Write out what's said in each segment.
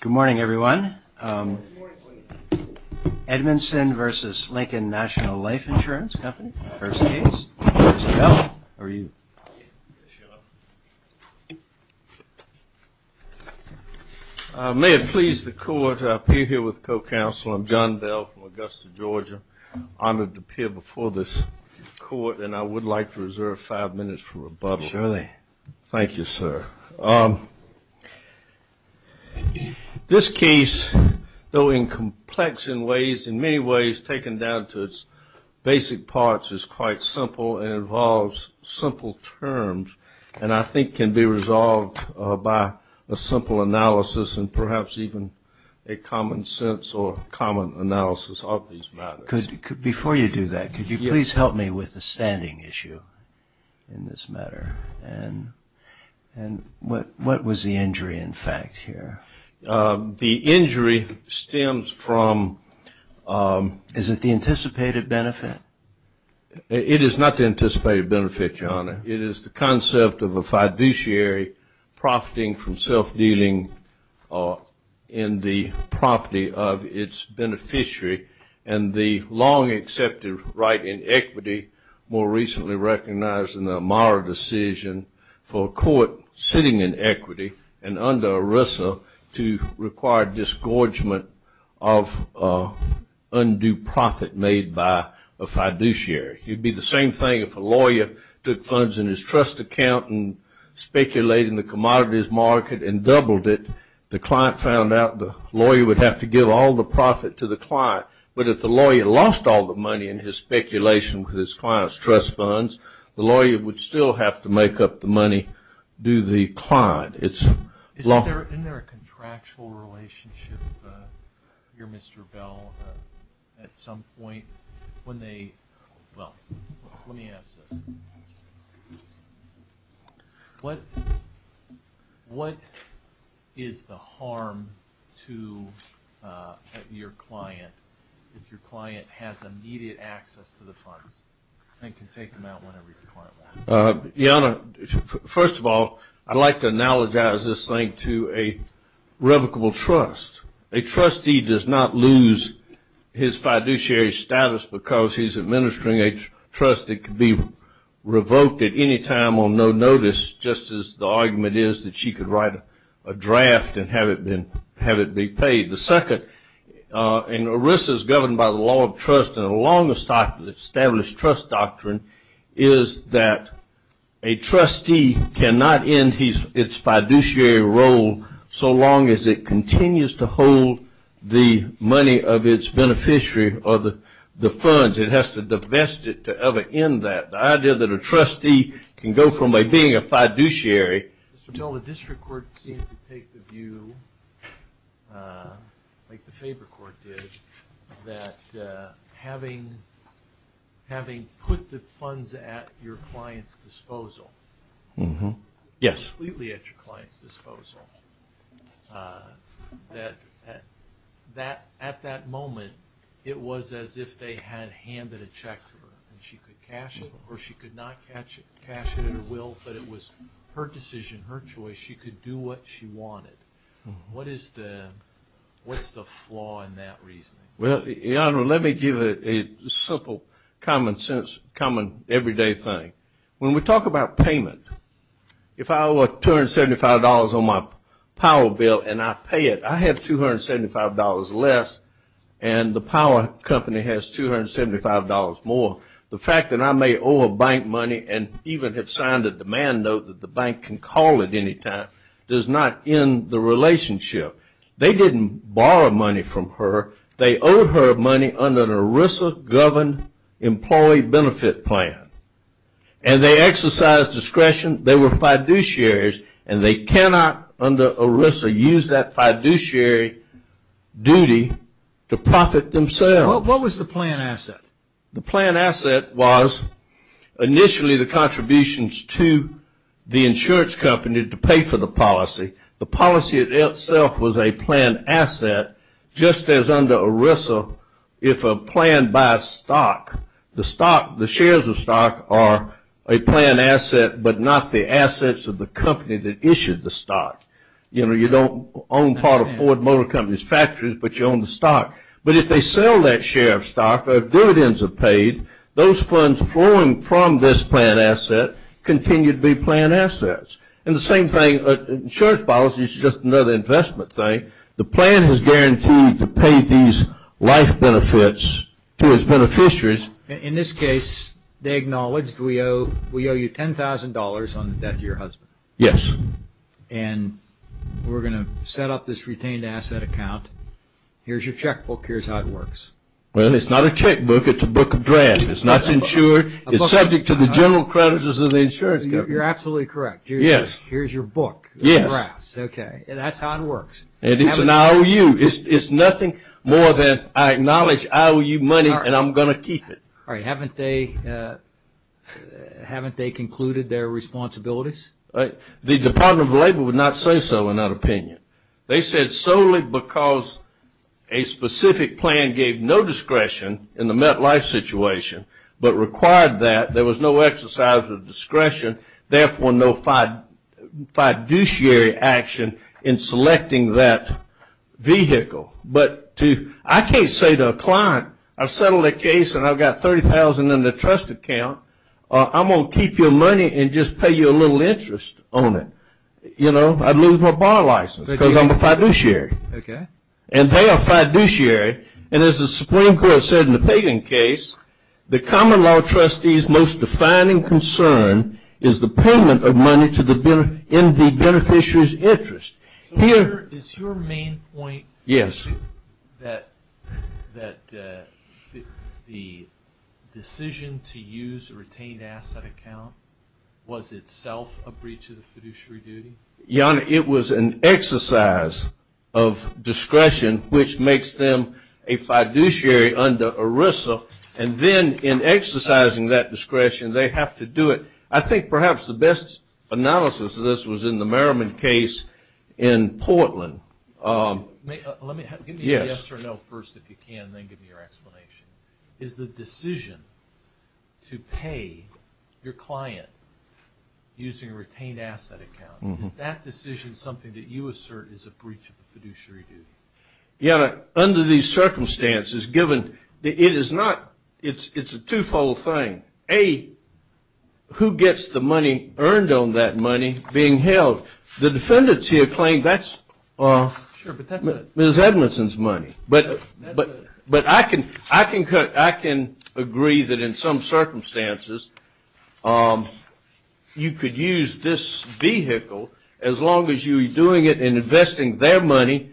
Good morning everyone. Edmonson v. Lincoln National Life Insurance Company. May it please the court, I appear here with co-counsel. I'm John Bell from Augusta, Georgia. Honored to appear before this rebuttal. Thank you sir. This case, though in complex in ways, in many ways taken down to its basic parts, is quite simple and involves simple terms and I think can be resolved by a simple analysis and perhaps even a common sense or common analysis of these matters. Before you do that, could you please help me with a standing issue in this matter? And what was the injury in fact here? The injury stems from... Is it the anticipated benefit? It is not the anticipated benefit, your honor. It is the concept of a fiduciary profiting from self-dealing in the property of its beneficiary and the long accepted right in equity, more recently recognized in the Amara decision for a court sitting in equity and under ERISA to require disgorgement of undue profit made by a fiduciary. It would be the same thing if a lawyer took funds in his trust account and speculating the commodities market and doubled it. The client found out the lawyer would have to give all the profit to the client, but if the lawyer lost all the money in his speculation with his client's trust funds, the lawyer would still have to make up the money due the client. Isn't there a contractual relationship here, Mr. Bell? At some point when they... Well, let me ask this. What is the harm to your client if your client has immediate access to the funds and can take them out whenever you require them? Your honor, first of all, I'd like to analogize this thing to a revocable trust. A trustee does not lose his fiduciary status because he's administering a trust that could be revoked at any time on no notice, just as the argument is that she could write a draft and have it be paid. The second, and ERISA is governed by the law of trust and the longest established trust doctrine, is that a trustee cannot end its fiduciary role so long as it continues to hold the money of its beneficiary or the funds. It has to divest it to ever end that. The idea that a trustee can go from being a fiduciary... Mr. Bell, the district court seemed to take the view, like the favor court did, that having put the funds at your client's disposal... Yes. Completely at your client's disposal, that at that moment it was as if they had handed a check to her and she could cash it or she could not cash it at her will, but it was her decision, her choice. She could do what she wanted. What is the flaw in that reasoning? Well, Your Honor, let me give a simple common sense, common everyday thing. When we talk about payment, if I owe $275 on my power bill and I pay it, I have $275 less and the power company has $275 more. The fact that I may owe a bank money and even have signed a demand note that the bank can call at any time does not end the relationship. They did not borrow money from her. They owed her money under an ERISA-governed employee benefit plan and they exercised discretion. They were fiduciaries and they cannot, under ERISA, use that fiduciary duty to profit themselves. What was the plan asset? The plan asset was initially the contributions to the insurance company to pay for the policy. The policy itself was a plan asset just as under ERISA if a plan by stock. The shares of stock are a plan asset but not the assets of the company that issued the stock. You know, you don't own part of Ford Motor Company's factories, but you own the stock. But if they sell that share of stock, dividends are paid, those funds flowing from this plan asset continue to be plan assets. And the same thing, insurance policy is just another investment thing. The plan has guaranteed to pay these life benefits to its beneficiaries. In this case, they acknowledged we owe you $10,000 on the death of your husband. Yes. And we're going to set up this retained asset account. Here's your checkbook. Here's how it works. Well, it's not a checkbook. It's a book of drafts. It's not insured. It's subject to the general creditors of the insurance company. You're absolutely correct. Here's your book of drafts. Okay. That's how it works. And it's an IOU. It's nothing more than I acknowledge IOU money and I'm going to keep it. All right. Haven't they concluded their responsibilities? The Department of Labor would not say so in that opinion. They said solely because a specific plan gave no discretion in the MetLife situation but required that. There was no exercise of discretion, therefore, no fiduciary action in selecting that vehicle. But I can't say to a client, I've settled a case and I've got $30,000 in the trust account. I'm going to keep your money and just pay you a little interest on it. You know, I'd lose my bar license because I'm a fiduciary. And they are fiduciary and as the Supreme Court said in the Pagan case, the common law trustee's most defining concern is the payment of money in the beneficiary's interest. Is your main point that the decision to use a retained asset account was itself a breach of the fiduciary duty? It was an exercise of discretion which makes them a fiduciary under ERISA. And then in exercising that discretion, they have to do it. I think perhaps the best analysis of this was in the Merriman case in Portland. Give me a yes or a no first if you can and then give me your explanation. Is the decision to pay your client using a retained asset account, is that decision something that you assert is a breach of the fiduciary duty? Under these circumstances, given that it is not, it's a twofold thing. A, who gets the money earned on that money being held? The defendants here claim that's Ms. Edmondson's money. But I can agree that in some circumstances you could use this vehicle as long as you're doing it and investing their money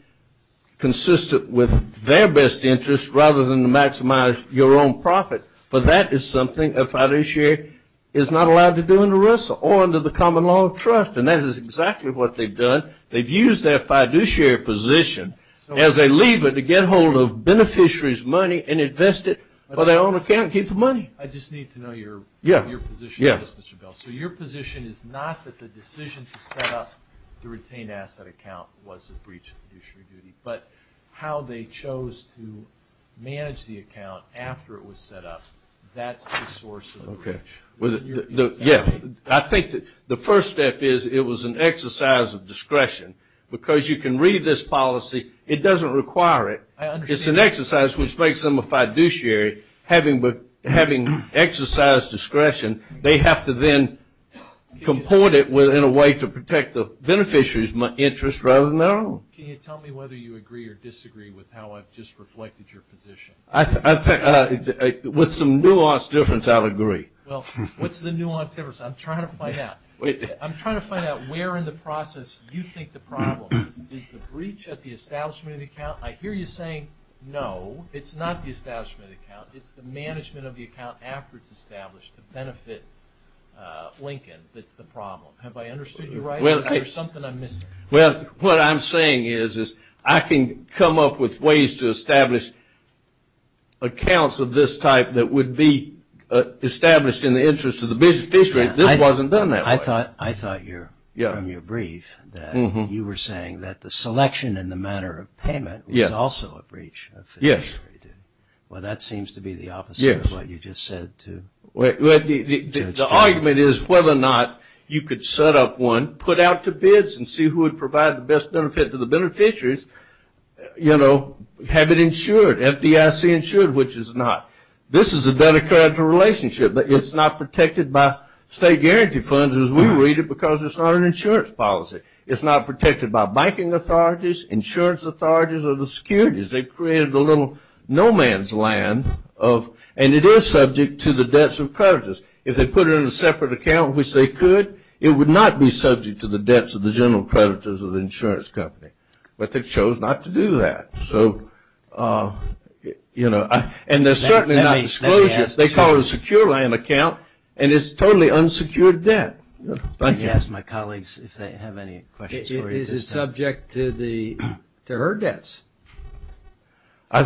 consistent with their best interest rather than to maximize your own profit. But that is something a fiduciary is not allowed to do under ERISA or under the common law of trust. And that is exactly what they've done. They've used their fiduciary position as a lever to get hold of beneficiaries' money and invest it for their own account and keep the money. I just need to know your position on this, Mr. Bell. So your position is not that the decision to set up the retained asset account was a breach of fiduciary duty, but how they chose to manage the account after it was set up, that's the source of the breach. I think the first step is it was an exercise of discretion. Because you can read this policy, it doesn't require it. It's an exercise which makes them a fiduciary. Having exercised discretion, they have to then comport it in a way to protect the beneficiaries' interest rather than their own. Can you tell me whether you agree or disagree with how I've just reflected your position? With some nuanced difference, I'll agree. Well, what's the nuanced difference? I'm trying to find out. I'm trying to find out where in the process you think the problem is. Is the breach at the establishment of the account? I hear you saying no, it's not the establishment of the account. It's the management of the account after it's established to benefit Lincoln that's the problem. Have I understood you right? Is there something I'm missing? Well, what I'm saying is I can come up with ways to establish accounts of this type that would be established in the interest of the beneficiaries. This wasn't done that way. I thought from your brief that you were saying that the selection in the matter of payment was also a breach of fiduciary duty. Yes. Well, that seems to be the opposite of what you just said. The argument is whether or not you could set up one, put out to bids and see who would provide the best benefit to the beneficiaries, have it insured, FDIC insured, which it's not. This is a debt of credit relationship, but it's not protected by state guarantee funds as we read it because it's not an insurance policy. It's not protected by banking authorities, insurance authorities, or the securities. They've created a little no man's land, and it is subject to the debts of creditors. If they put it in a separate account, which they could, it would not be subject to the debts of the general creditors of the insurance company. But they chose not to do that. So, you know, and they're certainly not disclosure. They call it a secure land account, and it's totally unsecured debt. I can ask my colleagues if they have any questions. Is it subject to her debts? I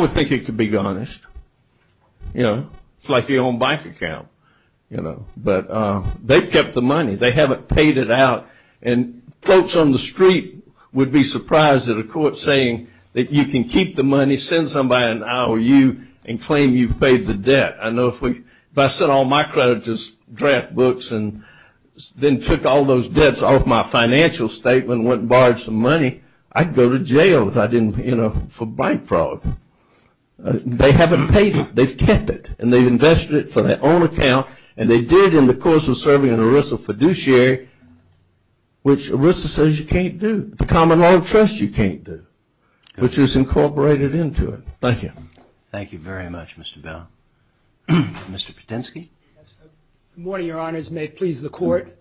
would think it could be garnished. You know, it's like the own bank account, you know, but they kept the money. They haven't paid it out, and folks on the street would be surprised at a court saying that you can keep the money, send somebody an IOU, and claim you've paid the debt. I know if I sent all my creditors draft books and then took all those debts off my financial statement, went and borrowed some money, I'd go to jail if I didn't, you know, for bank fraud. They haven't paid it. They've kept it, and they've invested it for their own account, and they did in the course of serving an ERISA fiduciary, which ERISA says you can't do, the common law of trust you can't do, which was incorporated into it. Thank you. Thank you very much, Mr. Bell. Mr. Patinsky. Good morning, Your Honors. May it please the Court.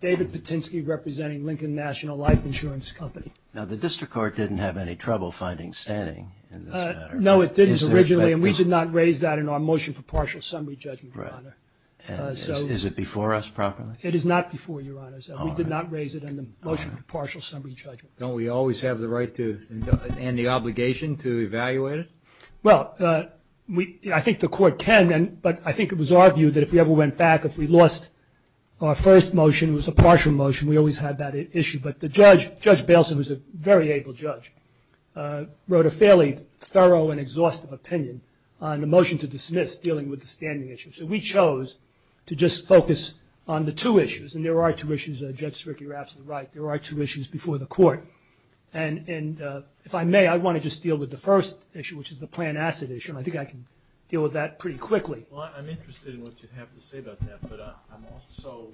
David Patinsky representing Lincoln National Life Insurance Company. Now, the district court didn't have any trouble finding standing in this matter. No, it didn't originally, and we did not raise that in our motion for partial summary judgment. Right. Is it before us properly? It is not before you, Your Honors. We did not raise it in the motion for partial summary judgment. Don't we always have the right and the obligation to evaluate it? Well, I think the Court can, but I think it was our view that if we ever went back, if we lost our first motion, it was a partial motion, we always had that issue. But Judge Bailson, who is a very able judge, wrote a fairly thorough and exhaustive opinion on the motion to dismiss dealing with the standing issue. So we chose to just focus on the two issues. And there are two issues. Judge Stricker, you're absolutely right. There are two issues before the Court. And if I may, I want to just deal with the first issue, which is the planned asset issue, and I think I can deal with that pretty quickly. Well, I'm interested in what you have to say about that. But I'm also,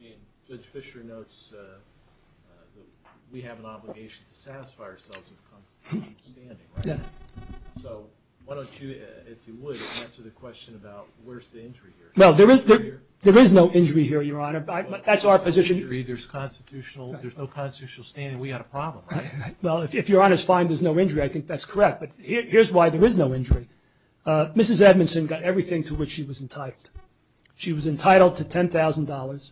I mean, Judge Fischer notes that we have an obligation to satisfy ourselves and constitute standing, right? Yeah. So why don't you, if you would, answer the question about where's the injury here? Well, there is no injury here, Your Honor. That's our position. There's no constitutional standing. We've got a problem, right? Well, if Your Honor's fine, there's no injury, I think that's correct. But here's why there is no injury. Mrs. Edmondson got everything to which she was entitled. She was entitled to $10,000.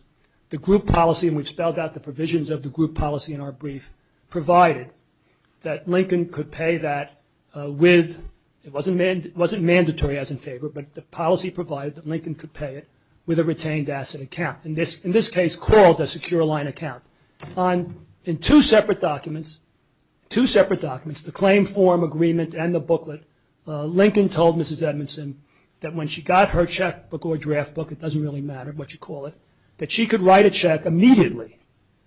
The group policy, and we've spelled out the provisions of the group policy in our brief, provided that Lincoln could pay that with, it wasn't mandatory as in favor, but the policy provided that Lincoln could pay it with a retained asset account, in this case called a secure line account. In two separate documents, two separate documents, the claim form agreement and the booklet, Lincoln told Mrs. Edmondson that when she got her checkbook or draft book, it doesn't really matter what you call it, that she could write a check immediately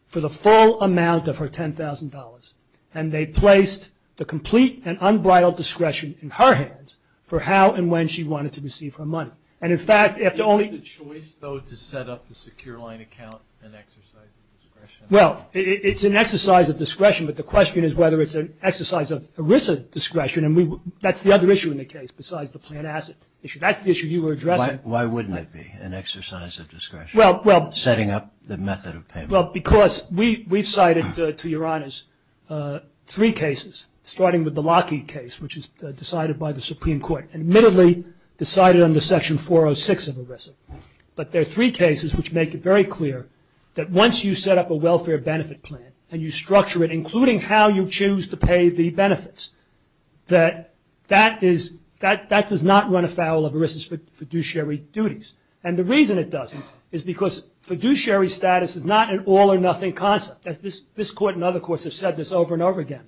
for the full amount of her $10,000, and they placed the complete and unbridled discretion in her hands for how and when she wanted to receive her money. And, in fact, if the only – Is it a choice, though, to set up the secure line account an exercise of discretion? Well, it's an exercise of discretion, but the question is whether it's an exercise of ERISA discretion, and that's the other issue in the case besides the planned asset issue. Why wouldn't it be an exercise of discretion? Setting up the method of payment. Well, because we've cited, to your honors, three cases, starting with the Lockheed case, which is decided by the Supreme Court and admittedly decided under Section 406 of ERISA. But there are three cases which make it very clear that once you set up a welfare benefit plan and you structure it, including how you choose to pay the benefits, that that does not run afoul of ERISA's fiduciary duties. And the reason it doesn't is because fiduciary status is not an all-or-nothing concept. This Court and other courts have said this over and over again.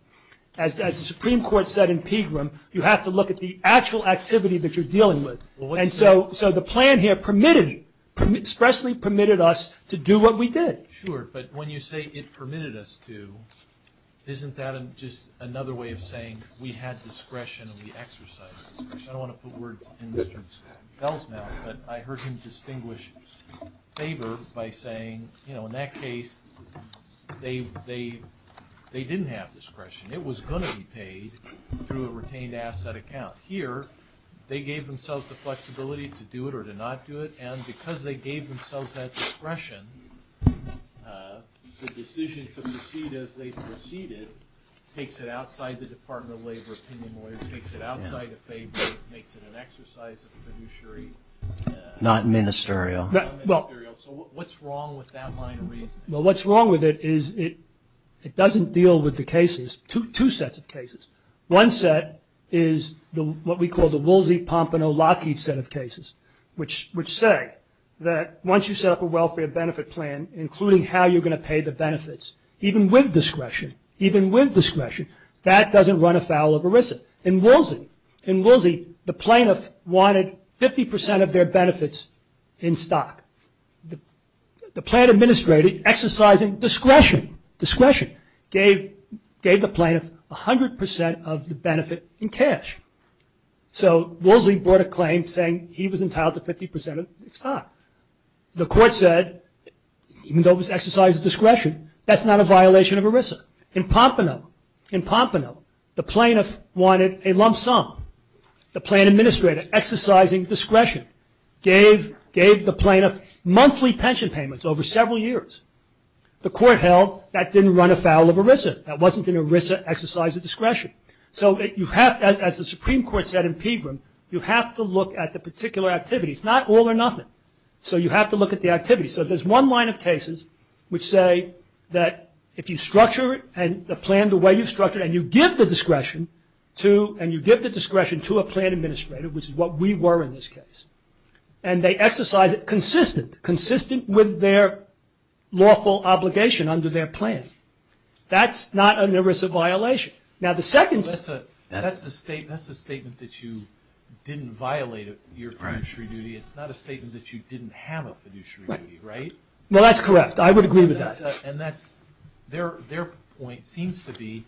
As the Supreme Court said in Pegram, you have to look at the actual activity that you're dealing with. And so the plan here permitted, expressly permitted us to do what we did. Sure, but when you say it permitted us to, isn't that just another way of saying we had discretion and we exercised discretion? I don't want to put words in Mr. Bell's mouth, but I heard him distinguish favor by saying, you know, in that case, they didn't have discretion. It was going to be paid through a retained asset account. Here, they gave themselves the flexibility to do it or to not do it, and because they gave themselves that discretion, the decision to proceed as they proceeded takes it outside the Department of Labor opinion, takes it outside of favor, makes it an exercise of fiduciary. Not ministerial. So what's wrong with that line of reasoning? Well, what's wrong with it is it doesn't deal with the cases, two sets of cases. One set is what we call the Woolsey, Pompano, Lockheed set of cases, which say that once you set up a welfare benefit plan, including how you're going to pay the benefits, even with discretion, even with discretion, that doesn't run afoul of ERISA. In Woolsey, the plaintiff wanted 50% of their benefits in stock. The plan administrator, exercising discretion, gave the plaintiff 100% of the benefit in cash. So Woolsey brought a claim saying he was entitled to 50% of its stock. The court said, even though it was an exercise of discretion, that's not a violation of ERISA. In Pompano, the plaintiff wanted a lump sum. The plan administrator, exercising discretion, gave the plaintiff monthly pension payments over several years. The court held that didn't run afoul of ERISA. That wasn't an ERISA exercise of discretion. So as the Supreme Court said in Pegram, you have to look at the particular activities, it's not all or nothing, so you have to look at the activities. So there's one line of cases which say that if you structure the plan the way you've structured it and you give the discretion to a plan administrator, which is what we were in this case, and they exercise it consistent, consistent with their lawful obligation under their plan, that's not an ERISA violation. That's a statement that you didn't violate your fiduciary duty. It's not a statement that you didn't have a fiduciary duty, right? No, that's correct. I would agree with that. And that's – their point seems to be,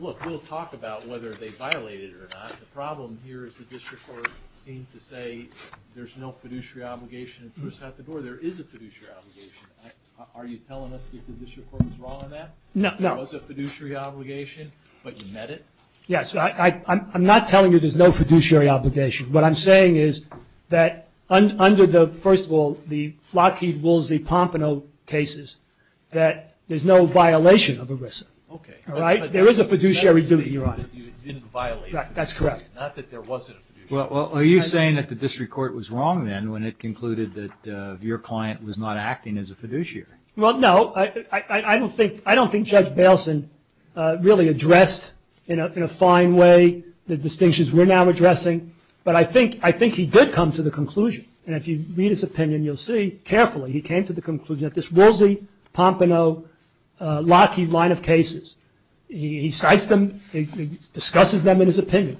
look, we'll talk about whether they violated it or not. The problem here is the district court seemed to say there's no fiduciary obligation. At the door, there is a fiduciary obligation. Are you telling us the district court was wrong on that? No. It was a fiduciary obligation, but you met it? Yes. I'm not telling you there's no fiduciary obligation. What I'm saying is that under the, first of all, the Lockheed-Woolsey-Pompano cases, that there's no violation of ERISA. Okay. Right? There is a fiduciary duty, Your Honor. You didn't violate it. That's correct. Not that there wasn't a fiduciary duty. Well, are you saying that the district court was wrong then when it concluded that your client was not acting as a fiduciary? Well, no. I don't think Judge Bailson really addressed in a fine way the distinctions we're now addressing, but I think he did come to the conclusion, and if you read his opinion, you'll see carefully, he came to the conclusion that this Woolsey-Pompano-Lockheed line of cases, he cites them, he discusses them in his opinion,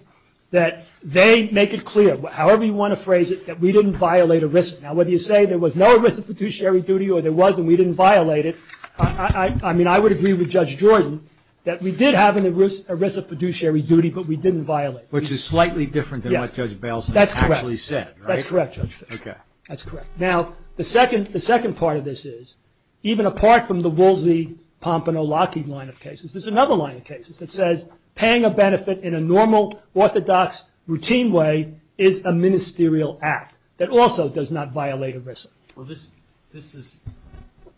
that they make it clear, however you want to phrase it, that we didn't violate ERISA. Now, whether you say there was no ERISA fiduciary duty or there was and we didn't violate it, I mean, I would agree with Judge Jordan that we did have an ERISA fiduciary duty, but we didn't violate it. Which is slightly different than what Judge Bailson actually said, right? That's correct. That's correct, Judge Fisher. Okay. That's correct. Now, the second part of this is, even apart from the Woolsey-Pompano-Lockheed line of cases, there's another line of cases that says paying a benefit in a normal, orthodox, routine way is a ministerial act that also does not violate ERISA. Well, this is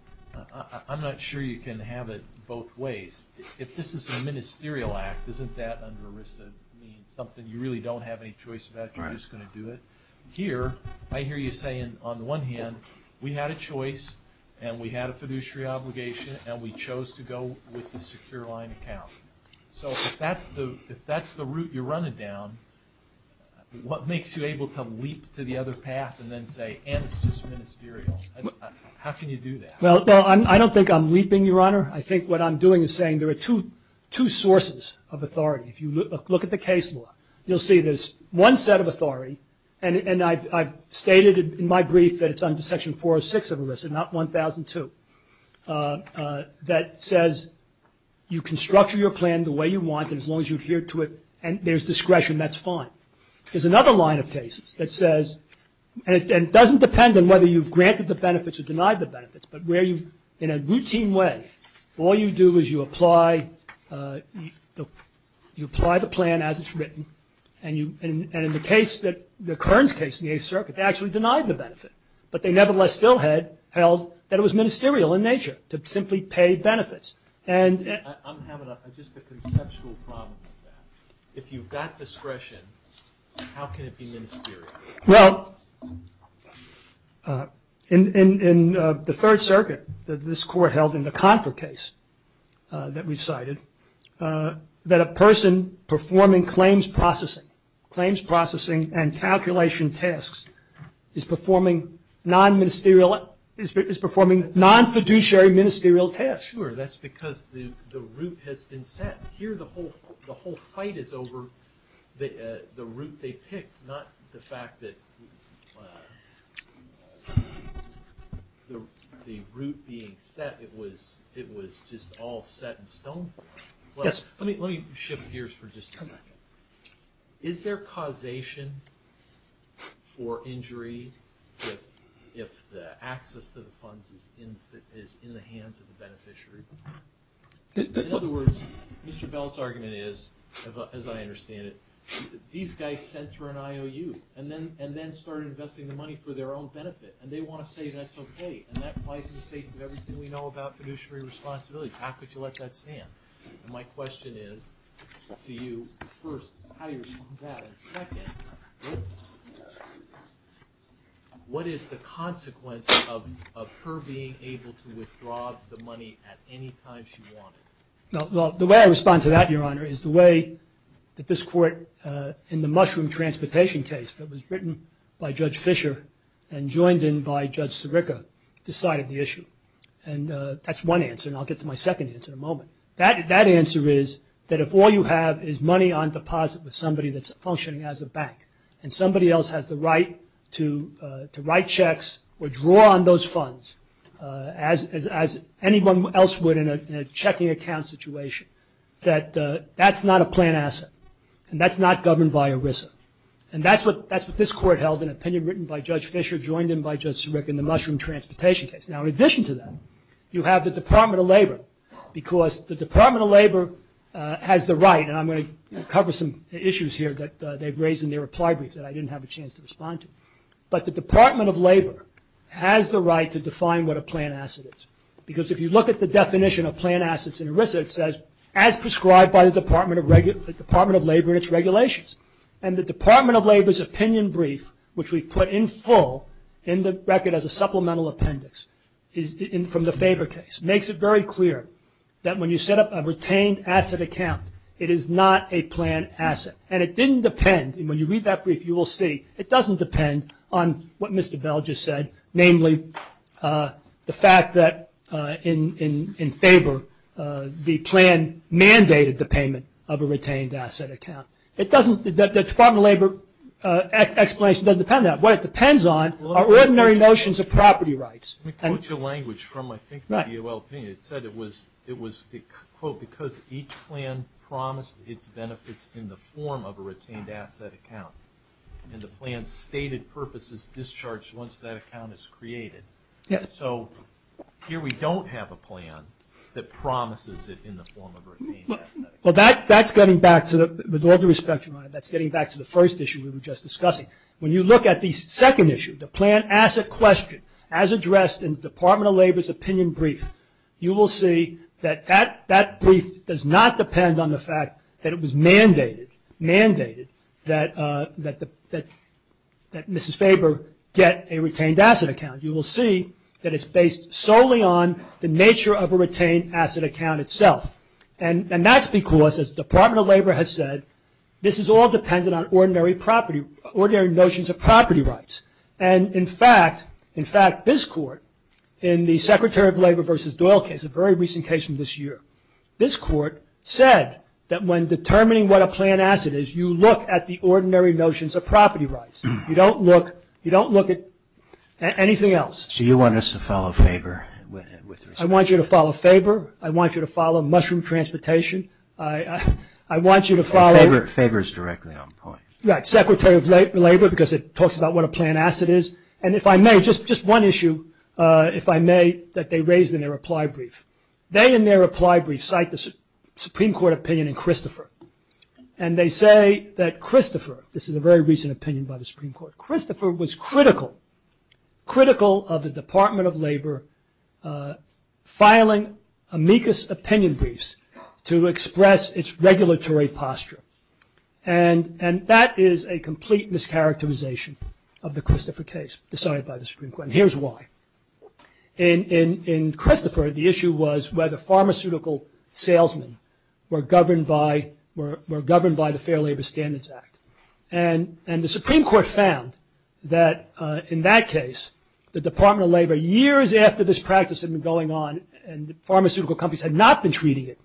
– I'm not sure you can have it both ways. If this is a ministerial act, isn't that under ERISA something you really don't have any choice about, you're just going to do it? Here, I hear you saying, on the one hand, we had a choice and we had a fiduciary obligation and we chose to go with the secure line account. So if that's the route you're running down, what makes you able to leap to the other path and then say, and it's just ministerial? How can you do that? Well, I don't think I'm leaping, Your Honor. I think what I'm doing is saying there are two sources of authority. If you look at the case law, you'll see there's one set of authority, and I've stated in my brief that it's under Section 406 of ERISA, not 1002, that says you can structure your plan the way you want it as long as you adhere to it and there's discretion, that's fine. There's another line of cases that says – and it doesn't depend on whether you've granted the benefits or denied the benefits, but where you, in a routine way, all you do is you apply the plan as it's written, and in the case that – the Kearns case in the Eighth Circuit, they actually denied the benefit, but they nevertheless still held that it was ministerial in nature to simply pay benefits. And – I'm having just a conceptual problem with that. If you've got discretion, how can it be ministerial? Well, in the Third Circuit, this court held in the Confer case that we cited, that a person performing claims processing, claims processing and calculation tasks, is performing non-ministerial – is performing non-fiduciary ministerial tasks. Sure, that's because the route has been set. Here the whole fight is over the route they picked, not the fact that the route being set, it was just all set in stone for them. Yes. Let me shift gears for just a second. Is there causation for injury if the access to the funds is in the hands of the beneficiary? In other words, Mr. Bell's argument is, as I understand it, these guys sent through an IOU and then started investing the money for their own benefit, and they want to say that's okay, and that applies in the face of everything we know about fiduciary responsibilities. How could you let that stand? And my question is to you, first, how do you respond to that? And second, what is the consequence of her being able to withdraw the money at any time she wanted? Well, the way I respond to that, Your Honor, is the way that this court, in the Mushroom Transportation case that was written by Judge Fisher and joined in by Judge Sirica, decided the issue. And that's one answer, and I'll get to my second answer in a moment. That answer is that if all you have is money on deposit with somebody that's functioning as a bank and somebody else has the right to write checks or draw on those funds, as anyone else would in a checking account situation, that that's not a plan asset, and that's not governed by ERISA. And that's what this court held in an opinion written by Judge Fisher, joined in by Judge Sirica in the Mushroom Transportation case. Now, in addition to that, you have the Department of Labor, because the Department of Labor has the right, and I'm going to cover some issues here that they've raised in their reply brief that I didn't have a chance to respond to. But the Department of Labor has the right to define what a plan asset is, because if you look at the definition of plan assets in ERISA, it says, as prescribed by the Department of Labor and its regulations. And the Department of Labor's opinion brief, which we've put in full in the record as a supplemental appendix from the Faber case, makes it very clear that when you set up a retained asset account, it is not a plan asset. And it didn't depend, and when you read that brief you will see, it doesn't depend on what Mr. Bell just said, namely the fact that in Faber the plan mandated the payment of a retained asset account. The Department of Labor explanation doesn't depend on that. What it depends on are ordinary notions of property rights. Let me quote you a language from, I think, the DOL opinion. It said it was, quote, because each plan promised its benefits in the form of a retained asset account, and the plan's stated purpose is discharged once that account is created. So here we don't have a plan that promises it in the form of a retained asset account. Well, that's getting back to the, with all due respect, Your Honor, that's getting back to the first issue we were just discussing. When you look at the second issue, the plan asset question, as addressed in the Department of Labor's opinion brief, you will see that that brief does not depend on the fact that it was mandated, mandated, that Mrs. Faber get a retained asset account. You will see that it's based solely on the nature of a retained asset account itself. And that's because, as the Department of Labor has said, this is all dependent on ordinary notions of property rights. And, in fact, this Court, in the Secretary of Labor v. Doyle case, a very recent case from this year, this Court said that when determining what a plan asset is, you look at the ordinary notions of property rights. You don't look at anything else. So you want us to follow Faber with respect? I want you to follow Faber. I want you to follow mushroom transportation. I want you to follow… Faber is directly on point. Right. Secretary of Labor, because it talks about what a plan asset is. And if I may, just one issue, if I may, that they raised in their reply brief. They, in their reply brief, cite the Supreme Court opinion in Christopher. And they say that Christopher, this is a very recent opinion by the Supreme Court, that Christopher was critical, critical of the Department of Labor filing amicus opinion briefs to express its regulatory posture. And that is a complete mischaracterization of the Christopher case decided by the Supreme Court. And here's why. In Christopher, the issue was whether pharmaceutical salesmen were governed by the Fair Labor Standards Act. And the Supreme Court found that in that case, the Department of Labor, years after this practice had been going on and pharmaceutical companies had not been treating it,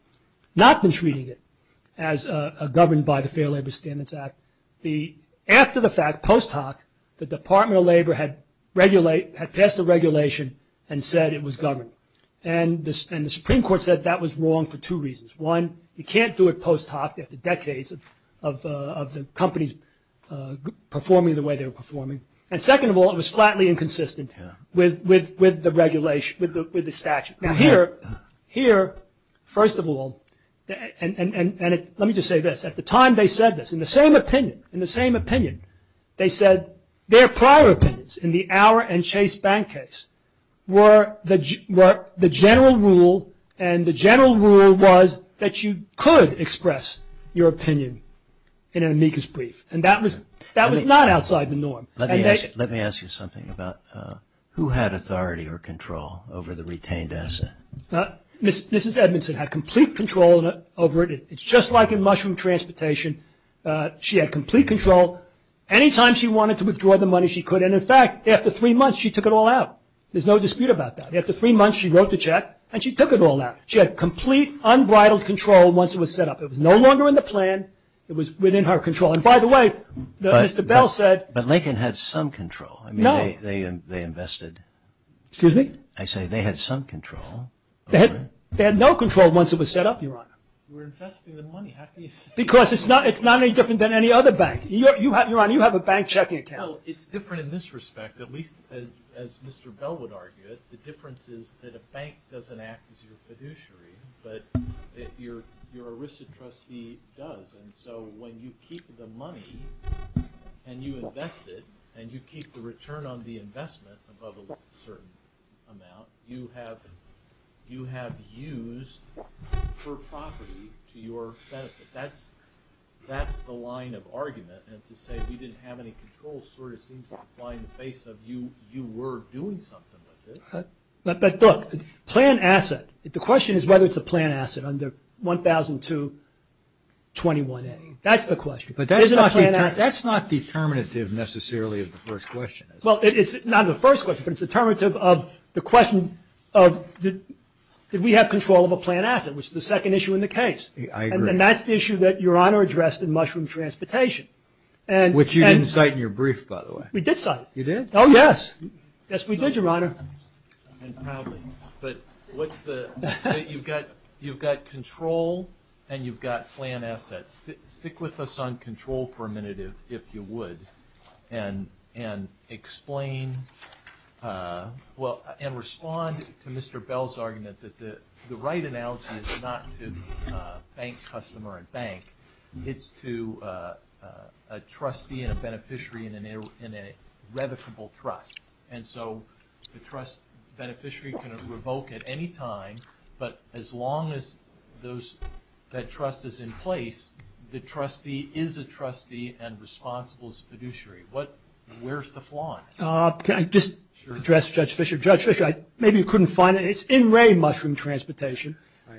not been treating it as governed by the Fair Labor Standards Act, after the fact, post hoc, the Department of Labor had passed a regulation and said it was governed. And the Supreme Court said that was wrong for two reasons. One, you can't do it post hoc, you have the decades of the companies performing the way they were performing. And second of all, it was flatly inconsistent with the regulation, with the statute. Now here, first of all, and let me just say this, at the time they said this, in the same opinion, in the same opinion, they said their prior opinions in the Auer and Chase Bank case were the general rule and the general rule was that you could express your opinion in an amicus brief. And that was not outside the norm. Let me ask you something about who had authority or control over the retained asset. Mrs. Edmondson had complete control over it. It's just like in mushroom transportation. She had complete control. Anytime she wanted to withdraw the money, she could. And in fact, after three months, she took it all out. There's no dispute about that. After three months, she wrote the check and she took it all out. She had complete, unbridled control once it was set up. It was no longer in the plan. It was within her control. And by the way, Mr. Bell said But Lincoln had some control. No. I mean, they invested. Excuse me? I say they had some control. They had no control once it was set up, Your Honor. You were investing the money. How can you say that? Because it's not any different than any other bank. Your Honor, you have a bank checking account. Well, it's different in this respect, at least as Mr. Bell would argue it, the difference is that a bank doesn't act as your fiduciary, but your arrested trustee does. And so when you keep the money and you invest it and you keep the return on the investment above a certain amount, you have used her property to your benefit. That's the line of argument. And to say we didn't have any control sort of seems to apply in the face of You were doing something with this. But, look, plan asset, the question is whether it's a plan asset under 100221A. That's the question. But that's not determinative necessarily of the first question, is it? Well, it's not the first question, but it's determinative of the question of did we have control of a plan asset, which is the second issue in the case. I agree. And that's the issue that Your Honor addressed in Mushroom Transportation. Which you didn't cite in your brief, by the way. We did cite it. You did? Oh, yes. Yes, we did, Your Honor. But you've got control and you've got plan assets. Stick with us on control for a minute, if you would, and explain and respond to Mr. Bell's argument that the right analogy is not to bank customer and bank. It's to a trustee and a beneficiary in a revocable trust. And so the trust beneficiary can revoke at any time, but as long as that trust is in place, the trustee is a trustee and responsible is a fiduciary. Where's the flaw in it? Can I just address Judge Fischer? Judge Fischer, maybe you couldn't find it. It's in Wray Mushroom Transportation,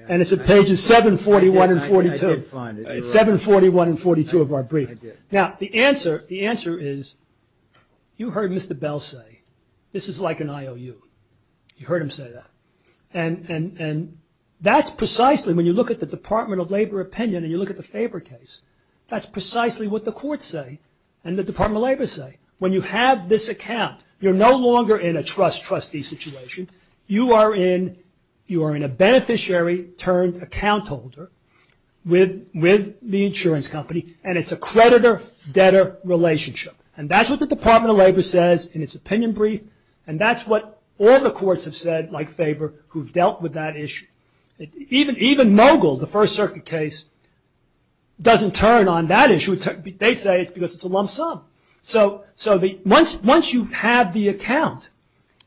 and it's at pages 741 and 742 of our brief. Now, the answer is you heard Mr. Bell say this is like an IOU. You heard him say that. And that's precisely, when you look at the Department of Labor opinion and you look at the Faber case, that's precisely what the courts say and the Department of Labor say. When you have this account, you're no longer in a trust-trustee situation. You are in a beneficiary-turned-account holder with the insurance company, and it's a creditor-debtor relationship. And that's what the Department of Labor says in its opinion brief, and that's what all the courts have said, like Faber, who have dealt with that issue. Even Mogul, the First Circuit case, doesn't turn on that issue. They say it's because it's a lump sum. So once you have the account,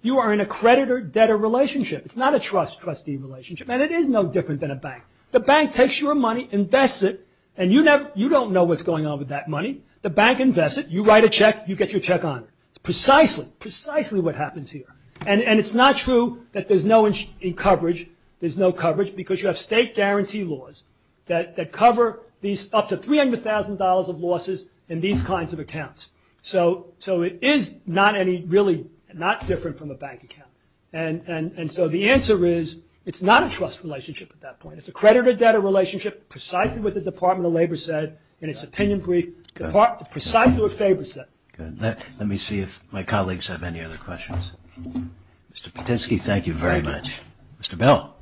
you are in a creditor-debtor relationship. It's not a trust-trustee relationship, and it is no different than a bank. The bank takes your money, invests it, and you don't know what's going on with that money. The bank invests it. You write a check. You get your check on it. It's precisely, precisely what happens here. And it's not true that there's no coverage. There's no coverage because you have state guarantee laws that cover these up to $300,000 of losses in these kinds of accounts. So it is not any, really not different from a bank account. And so the answer is it's not a trust relationship at that point. It's a creditor-debtor relationship, precisely what the Department of Labor said in its opinion brief, precisely what Faber said. Let me see if my colleagues have any other questions. Mr. Patinsky, thank you very much. Mr. Bell.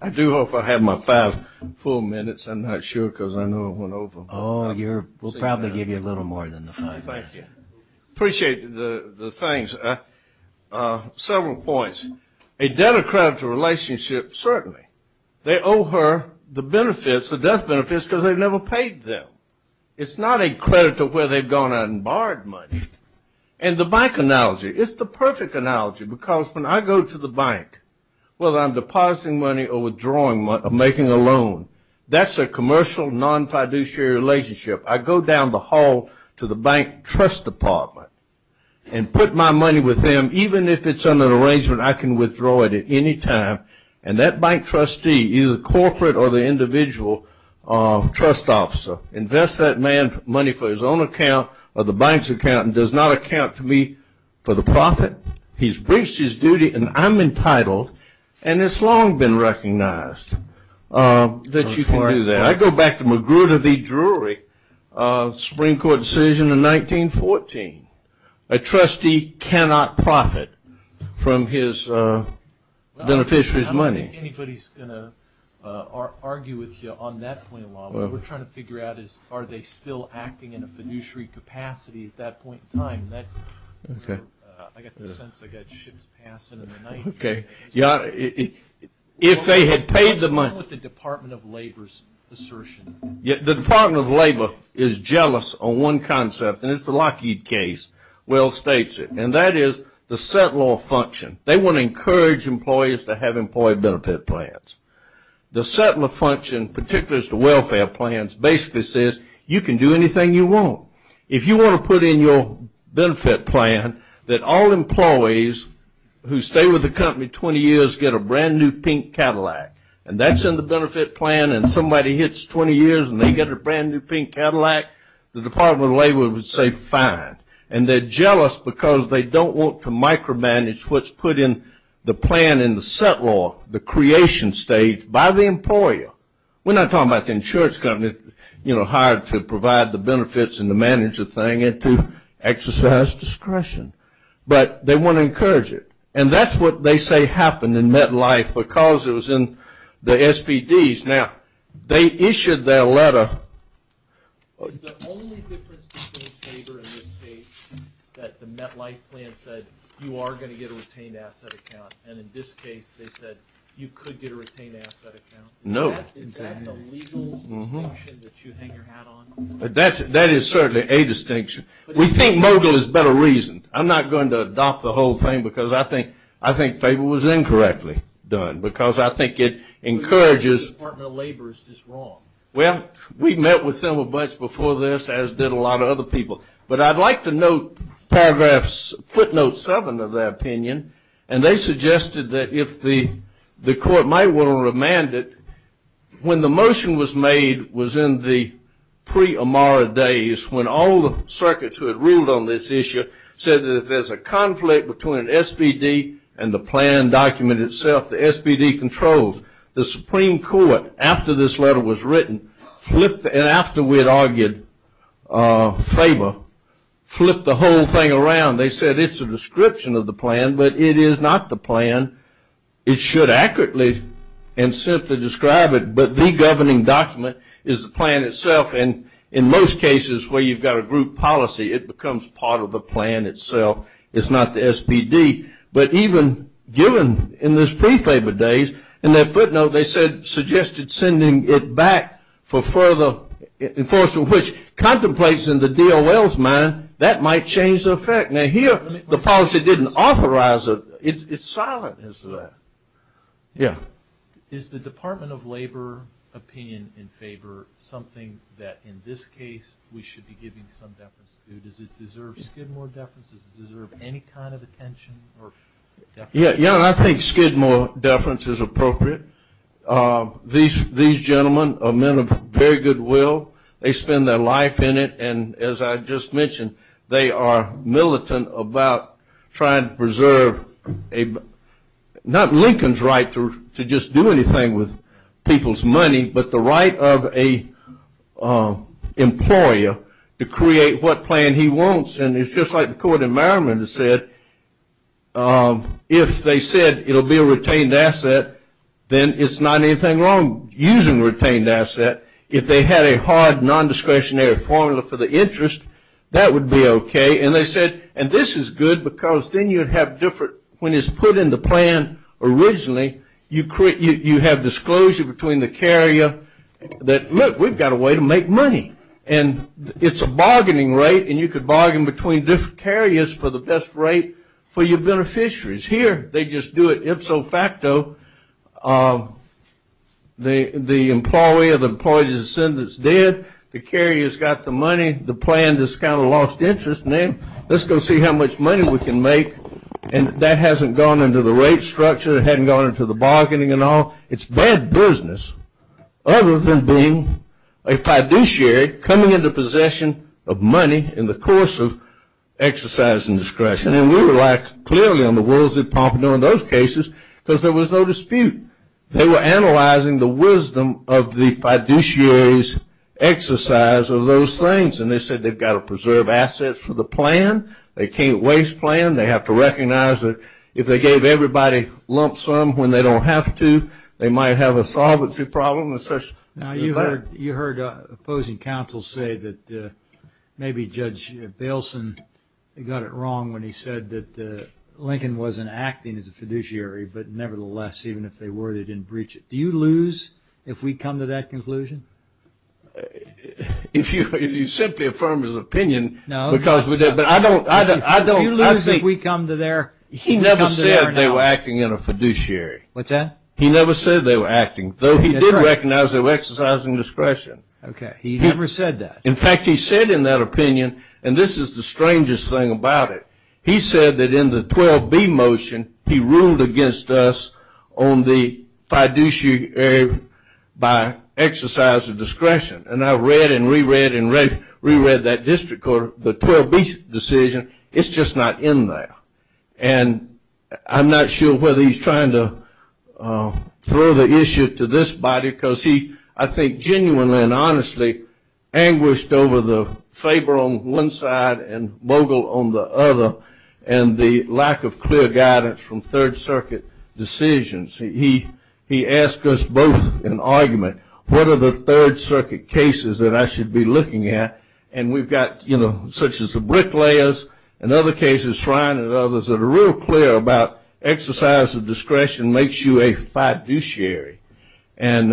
I do hope I have my five full minutes. I'm not sure because I know I went over. Oh, we'll probably give you a little more than the five minutes. Thank you. Appreciate the thanks. Several points. A debtor-creditor relationship, certainly. They owe her the benefits, the death benefits, because they've never paid them. It's not a creditor where they've gone out and borrowed money. And the bank analogy, it's the perfect analogy because when I go to the bank, whether I'm depositing money or withdrawing money or making a loan, that's a commercial non-fiduciary relationship. I go down the hall to the bank trust department and put my money with them. Even if it's under an arrangement, I can withdraw it at any time, and that bank trustee, either the corporate or the individual trust officer, invests that man money for his own account or the bank's account and does not account to me for the profit. He's breached his duty, and I'm entitled. And it's long been recognized that you can do that. I go back to Magruder v. Drury, Supreme Court decision in 1914. A trustee cannot profit from his beneficiary's money. I don't think anybody's going to argue with you on that point alone. What we're trying to figure out is are they still acting in a fiduciary capacity at that point in time. I got the sense I got ships passing in the night. If they had paid the money. What about the Department of Labor's assertion? The Department of Labor is jealous of one concept, and it's the Lockheed case, well states it, and that is the settler function. They want to encourage employees to have employee benefit plans. The settler function, particularly as to welfare plans, basically says you can do anything you want. If you want to put in your benefit plan that all employees who stay with the company 20 years get a brand new pink Cadillac, and that's in the benefit plan, and somebody hits 20 years and they get a brand new pink Cadillac, the Department of Labor would say fine. And they're jealous because they don't want to micromanage what's put in the plan in the settler, or the creation state by the employer. We're not talking about the insurance company hired to provide the benefits and to manage the thing and to exercise discretion. But they want to encourage it. And that's what they say happened in MetLife because it was in the SPDs. Now, they issued their letter. The only difference between Labor and this case is that the MetLife plan said you are going to get a retained asset account, and in this case they said you could get a retained asset account. No. Is that the legal distinction that you hang your hat on? That is certainly a distinction. We think Mogul is better reasoned. I'm not going to adopt the whole thing because I think Faber was incorrectly done because I think it encourages – The Department of Labor is just wrong. Well, we met with them a bunch before this, as did a lot of other people. But I'd like to note footnote seven of their opinion, and they suggested that if the court might want to remand it, when the motion was made was in the pre-Amara days when all the circuits who had ruled on this issue said that if there's a conflict between SPD and the plan document itself, the SPD controls. The Supreme Court, after this letter was written, and after we had argued Faber, flipped the whole thing around. They said it's a description of the plan, but it is not the plan. It should accurately and simply describe it, but the governing document is the plan itself, and in most cases where you've got a group policy, it becomes part of the plan itself. It's not the SPD. But even given in those pre-Faber days, in their footnote, they suggested sending it back for further enforcement, which contemplates in the DOL's mind that might change the effect. Now, here the policy didn't authorize it. It's silent as to that. Yeah. Is the Department of Labor opinion in favor something that, in this case, we should be giving some deference to? Does it deserve skim more deference? Does it deserve any kind of attention or deference? Yeah, I think skim more deference is appropriate. These gentlemen are men of very good will. They spend their life in it, and as I just mentioned, they are militant about trying to preserve not Lincoln's right to just do anything with people's money, but the right of an employer to create what plan he wants. And it's just like the court in Maryland has said, if they said it will be a retained asset, then it's not anything wrong using retained asset. If they had a hard non-discretionary formula for the interest, that would be okay. And they said, and this is good because then you have different, when it's put in the plan originally, you have disclosure between the carrier that, look, we've got a way to make money. And it's a bargaining rate, and you could bargain between different carriers for the best rate for your beneficiaries. Here, they just do it ipso facto. The employee or the employee's descendants did. The carrier's got the money. The plan just kind of lost interest, and then let's go see how much money we can make. And that hasn't gone into the rate structure. It hasn't gone into the bargaining and all. It's bad business, other than being a fiduciary coming into possession of money in the course of exercise and discretion. And we were like clearly on the wolves at Pompano in those cases because there was no dispute. They were analyzing the wisdom of the fiduciary's exercise of those things. And they said they've got to preserve assets for the plan. They can't waste plan. They have to recognize that if they gave everybody lump sum when they don't have to, they might have a solvency problem. Now, you heard opposing counsel say that maybe Judge Bailson got it wrong when he said that Lincoln wasn't acting as a fiduciary. But nevertheless, even if they were, they didn't breach it. Do you lose if we come to that conclusion? If you simply affirm his opinion. No. Do you lose if we come to their analysis? He never said they were acting in a fiduciary. What's that? He never said they were acting, though he did recognize they were exercising discretion. Okay. He never said that. In fact, he said in that opinion, and this is the strangest thing about it, he said that in the 12B motion he ruled against us on the fiduciary by exercise of discretion. And I read and reread and reread that district court, the 12B decision. It's just not in there. And I'm not sure whether he's trying to throw the issue to this body because he, I think, genuinely and honestly anguished over the favor on one side and mogul on the other and the lack of clear guidance from Third Circuit decisions. He asked us both in argument, what are the Third Circuit cases that I should be looking at? And we've got, you know, such as the Bricklayers and other cases, Shrine and others, that are real clear about exercise of discretion makes you a fiduciary. And,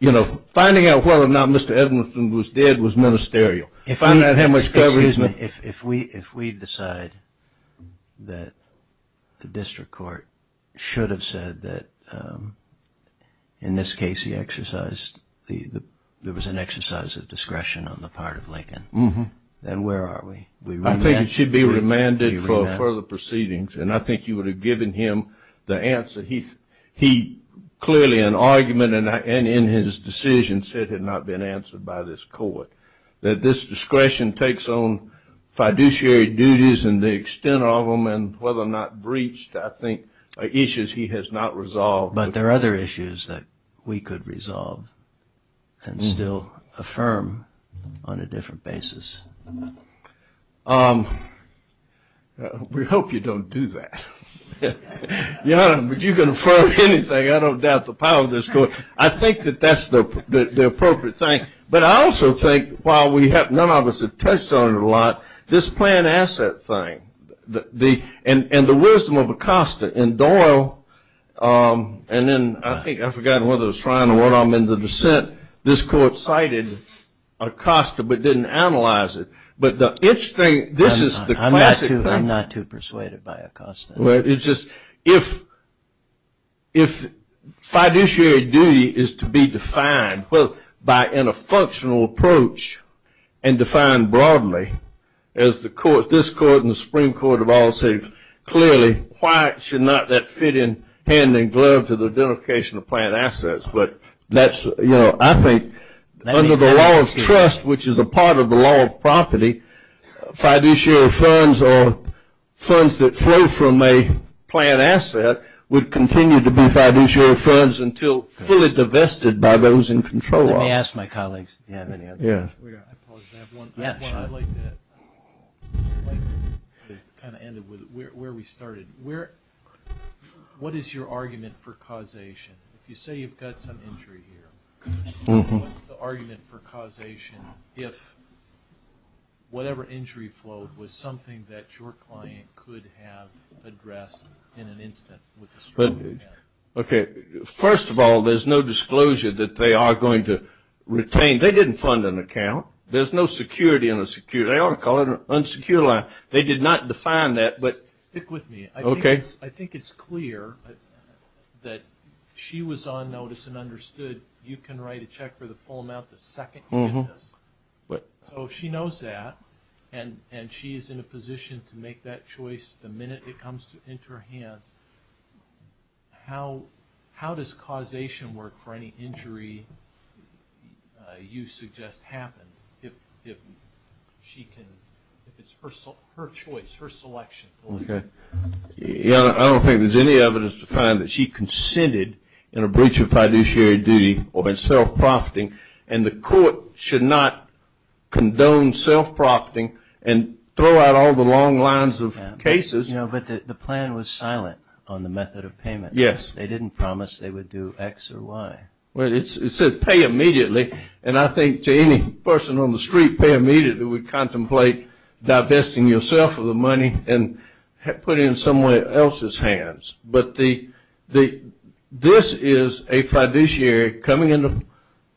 you know, finding out whether or not Mr. Edmundson was dead was ministerial. If we decide that the district court should have said that in this case he exercised, there was an exercise of discretion on the part of Lincoln, then where are we? I think it should be remanded for further proceedings. And I think you would have given him the answer. He clearly in argument and in his decision said it had not been answered by this court, that this discretion takes on fiduciary duties and the extent of them and whether or not breached I think are issues he has not resolved. But there are other issues that we could resolve and still affirm on a different basis. We hope you don't do that. But you can affirm anything. I don't doubt the power of this court. I think that that's the appropriate thing. But I also think while none of us have touched on it a lot, this plan asset thing and the wisdom of Acosta and Doyle, and then I think I forgot whether it was Ryan or one of them in the dissent, this court cited Acosta but didn't analyze it. But this is the classic thing. I'm not too persuaded by Acosta. If fiduciary duty is to be defined both by in a functional approach and defined broadly, as this court and the Supreme Court have all said clearly, why should not that fit in hand and glove to the identification of plan assets? But I think under the law of trust, which is a part of the law of property, fiduciary funds or funds that flow from a plan asset would continue to be fiduciary funds until fully divested by those in control of it. Let me ask my colleagues if they have any other questions. I apologize. I have one. I'd like to kind of end it with where we started. What is your argument for causation? If you say you've got some injury here, what's the argument for causation if whatever injury flowed was something that your client could have addressed in an instant with a strong plan? Okay. First of all, there's no disclosure that they are going to retain. They didn't fund an account. There's no security in a secure. They ought to call it an unsecure line. They did not define that. Stick with me. Okay. I think it's clear that she was on notice and understood you can write a check for the full amount the second you get this. So she knows that and she is in a position to make that choice the minute it comes into her hands. How does causation work for any injury you suggest happen if she can, if it's her choice, her selection? Okay. I don't think there's any evidence to find that she consented in a breach of fiduciary duty or in self-profiting and the court should not condone self-profiting and throw out all the long lines of cases. But the plan was silent on the method of payment. Yes. They didn't promise they would do X or Y. Well, it said pay immediately and I think to any person on the street pay immediately would contemplate divesting yourself of the money and putting it in someone else's hands. But this is a fiduciary coming into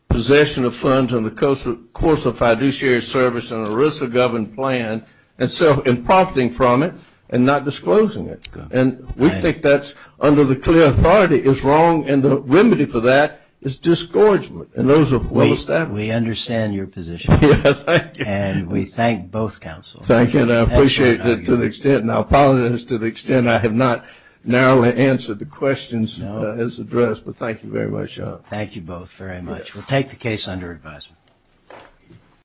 possession of funds on the course of fiduciary service and a risk of government plan and self-profiting from it and not disclosing it. And we think that's under the clear authority is wrong and the remedy for that is disgorgement and those are well established. We understand your position. And we thank both counsels. Thank you. And I appreciate it to the extent and I apologize to the extent I have not narrowly answered the questions as addressed. But thank you very much, Your Honor. Thank you both very much. We'll take the case under advisement.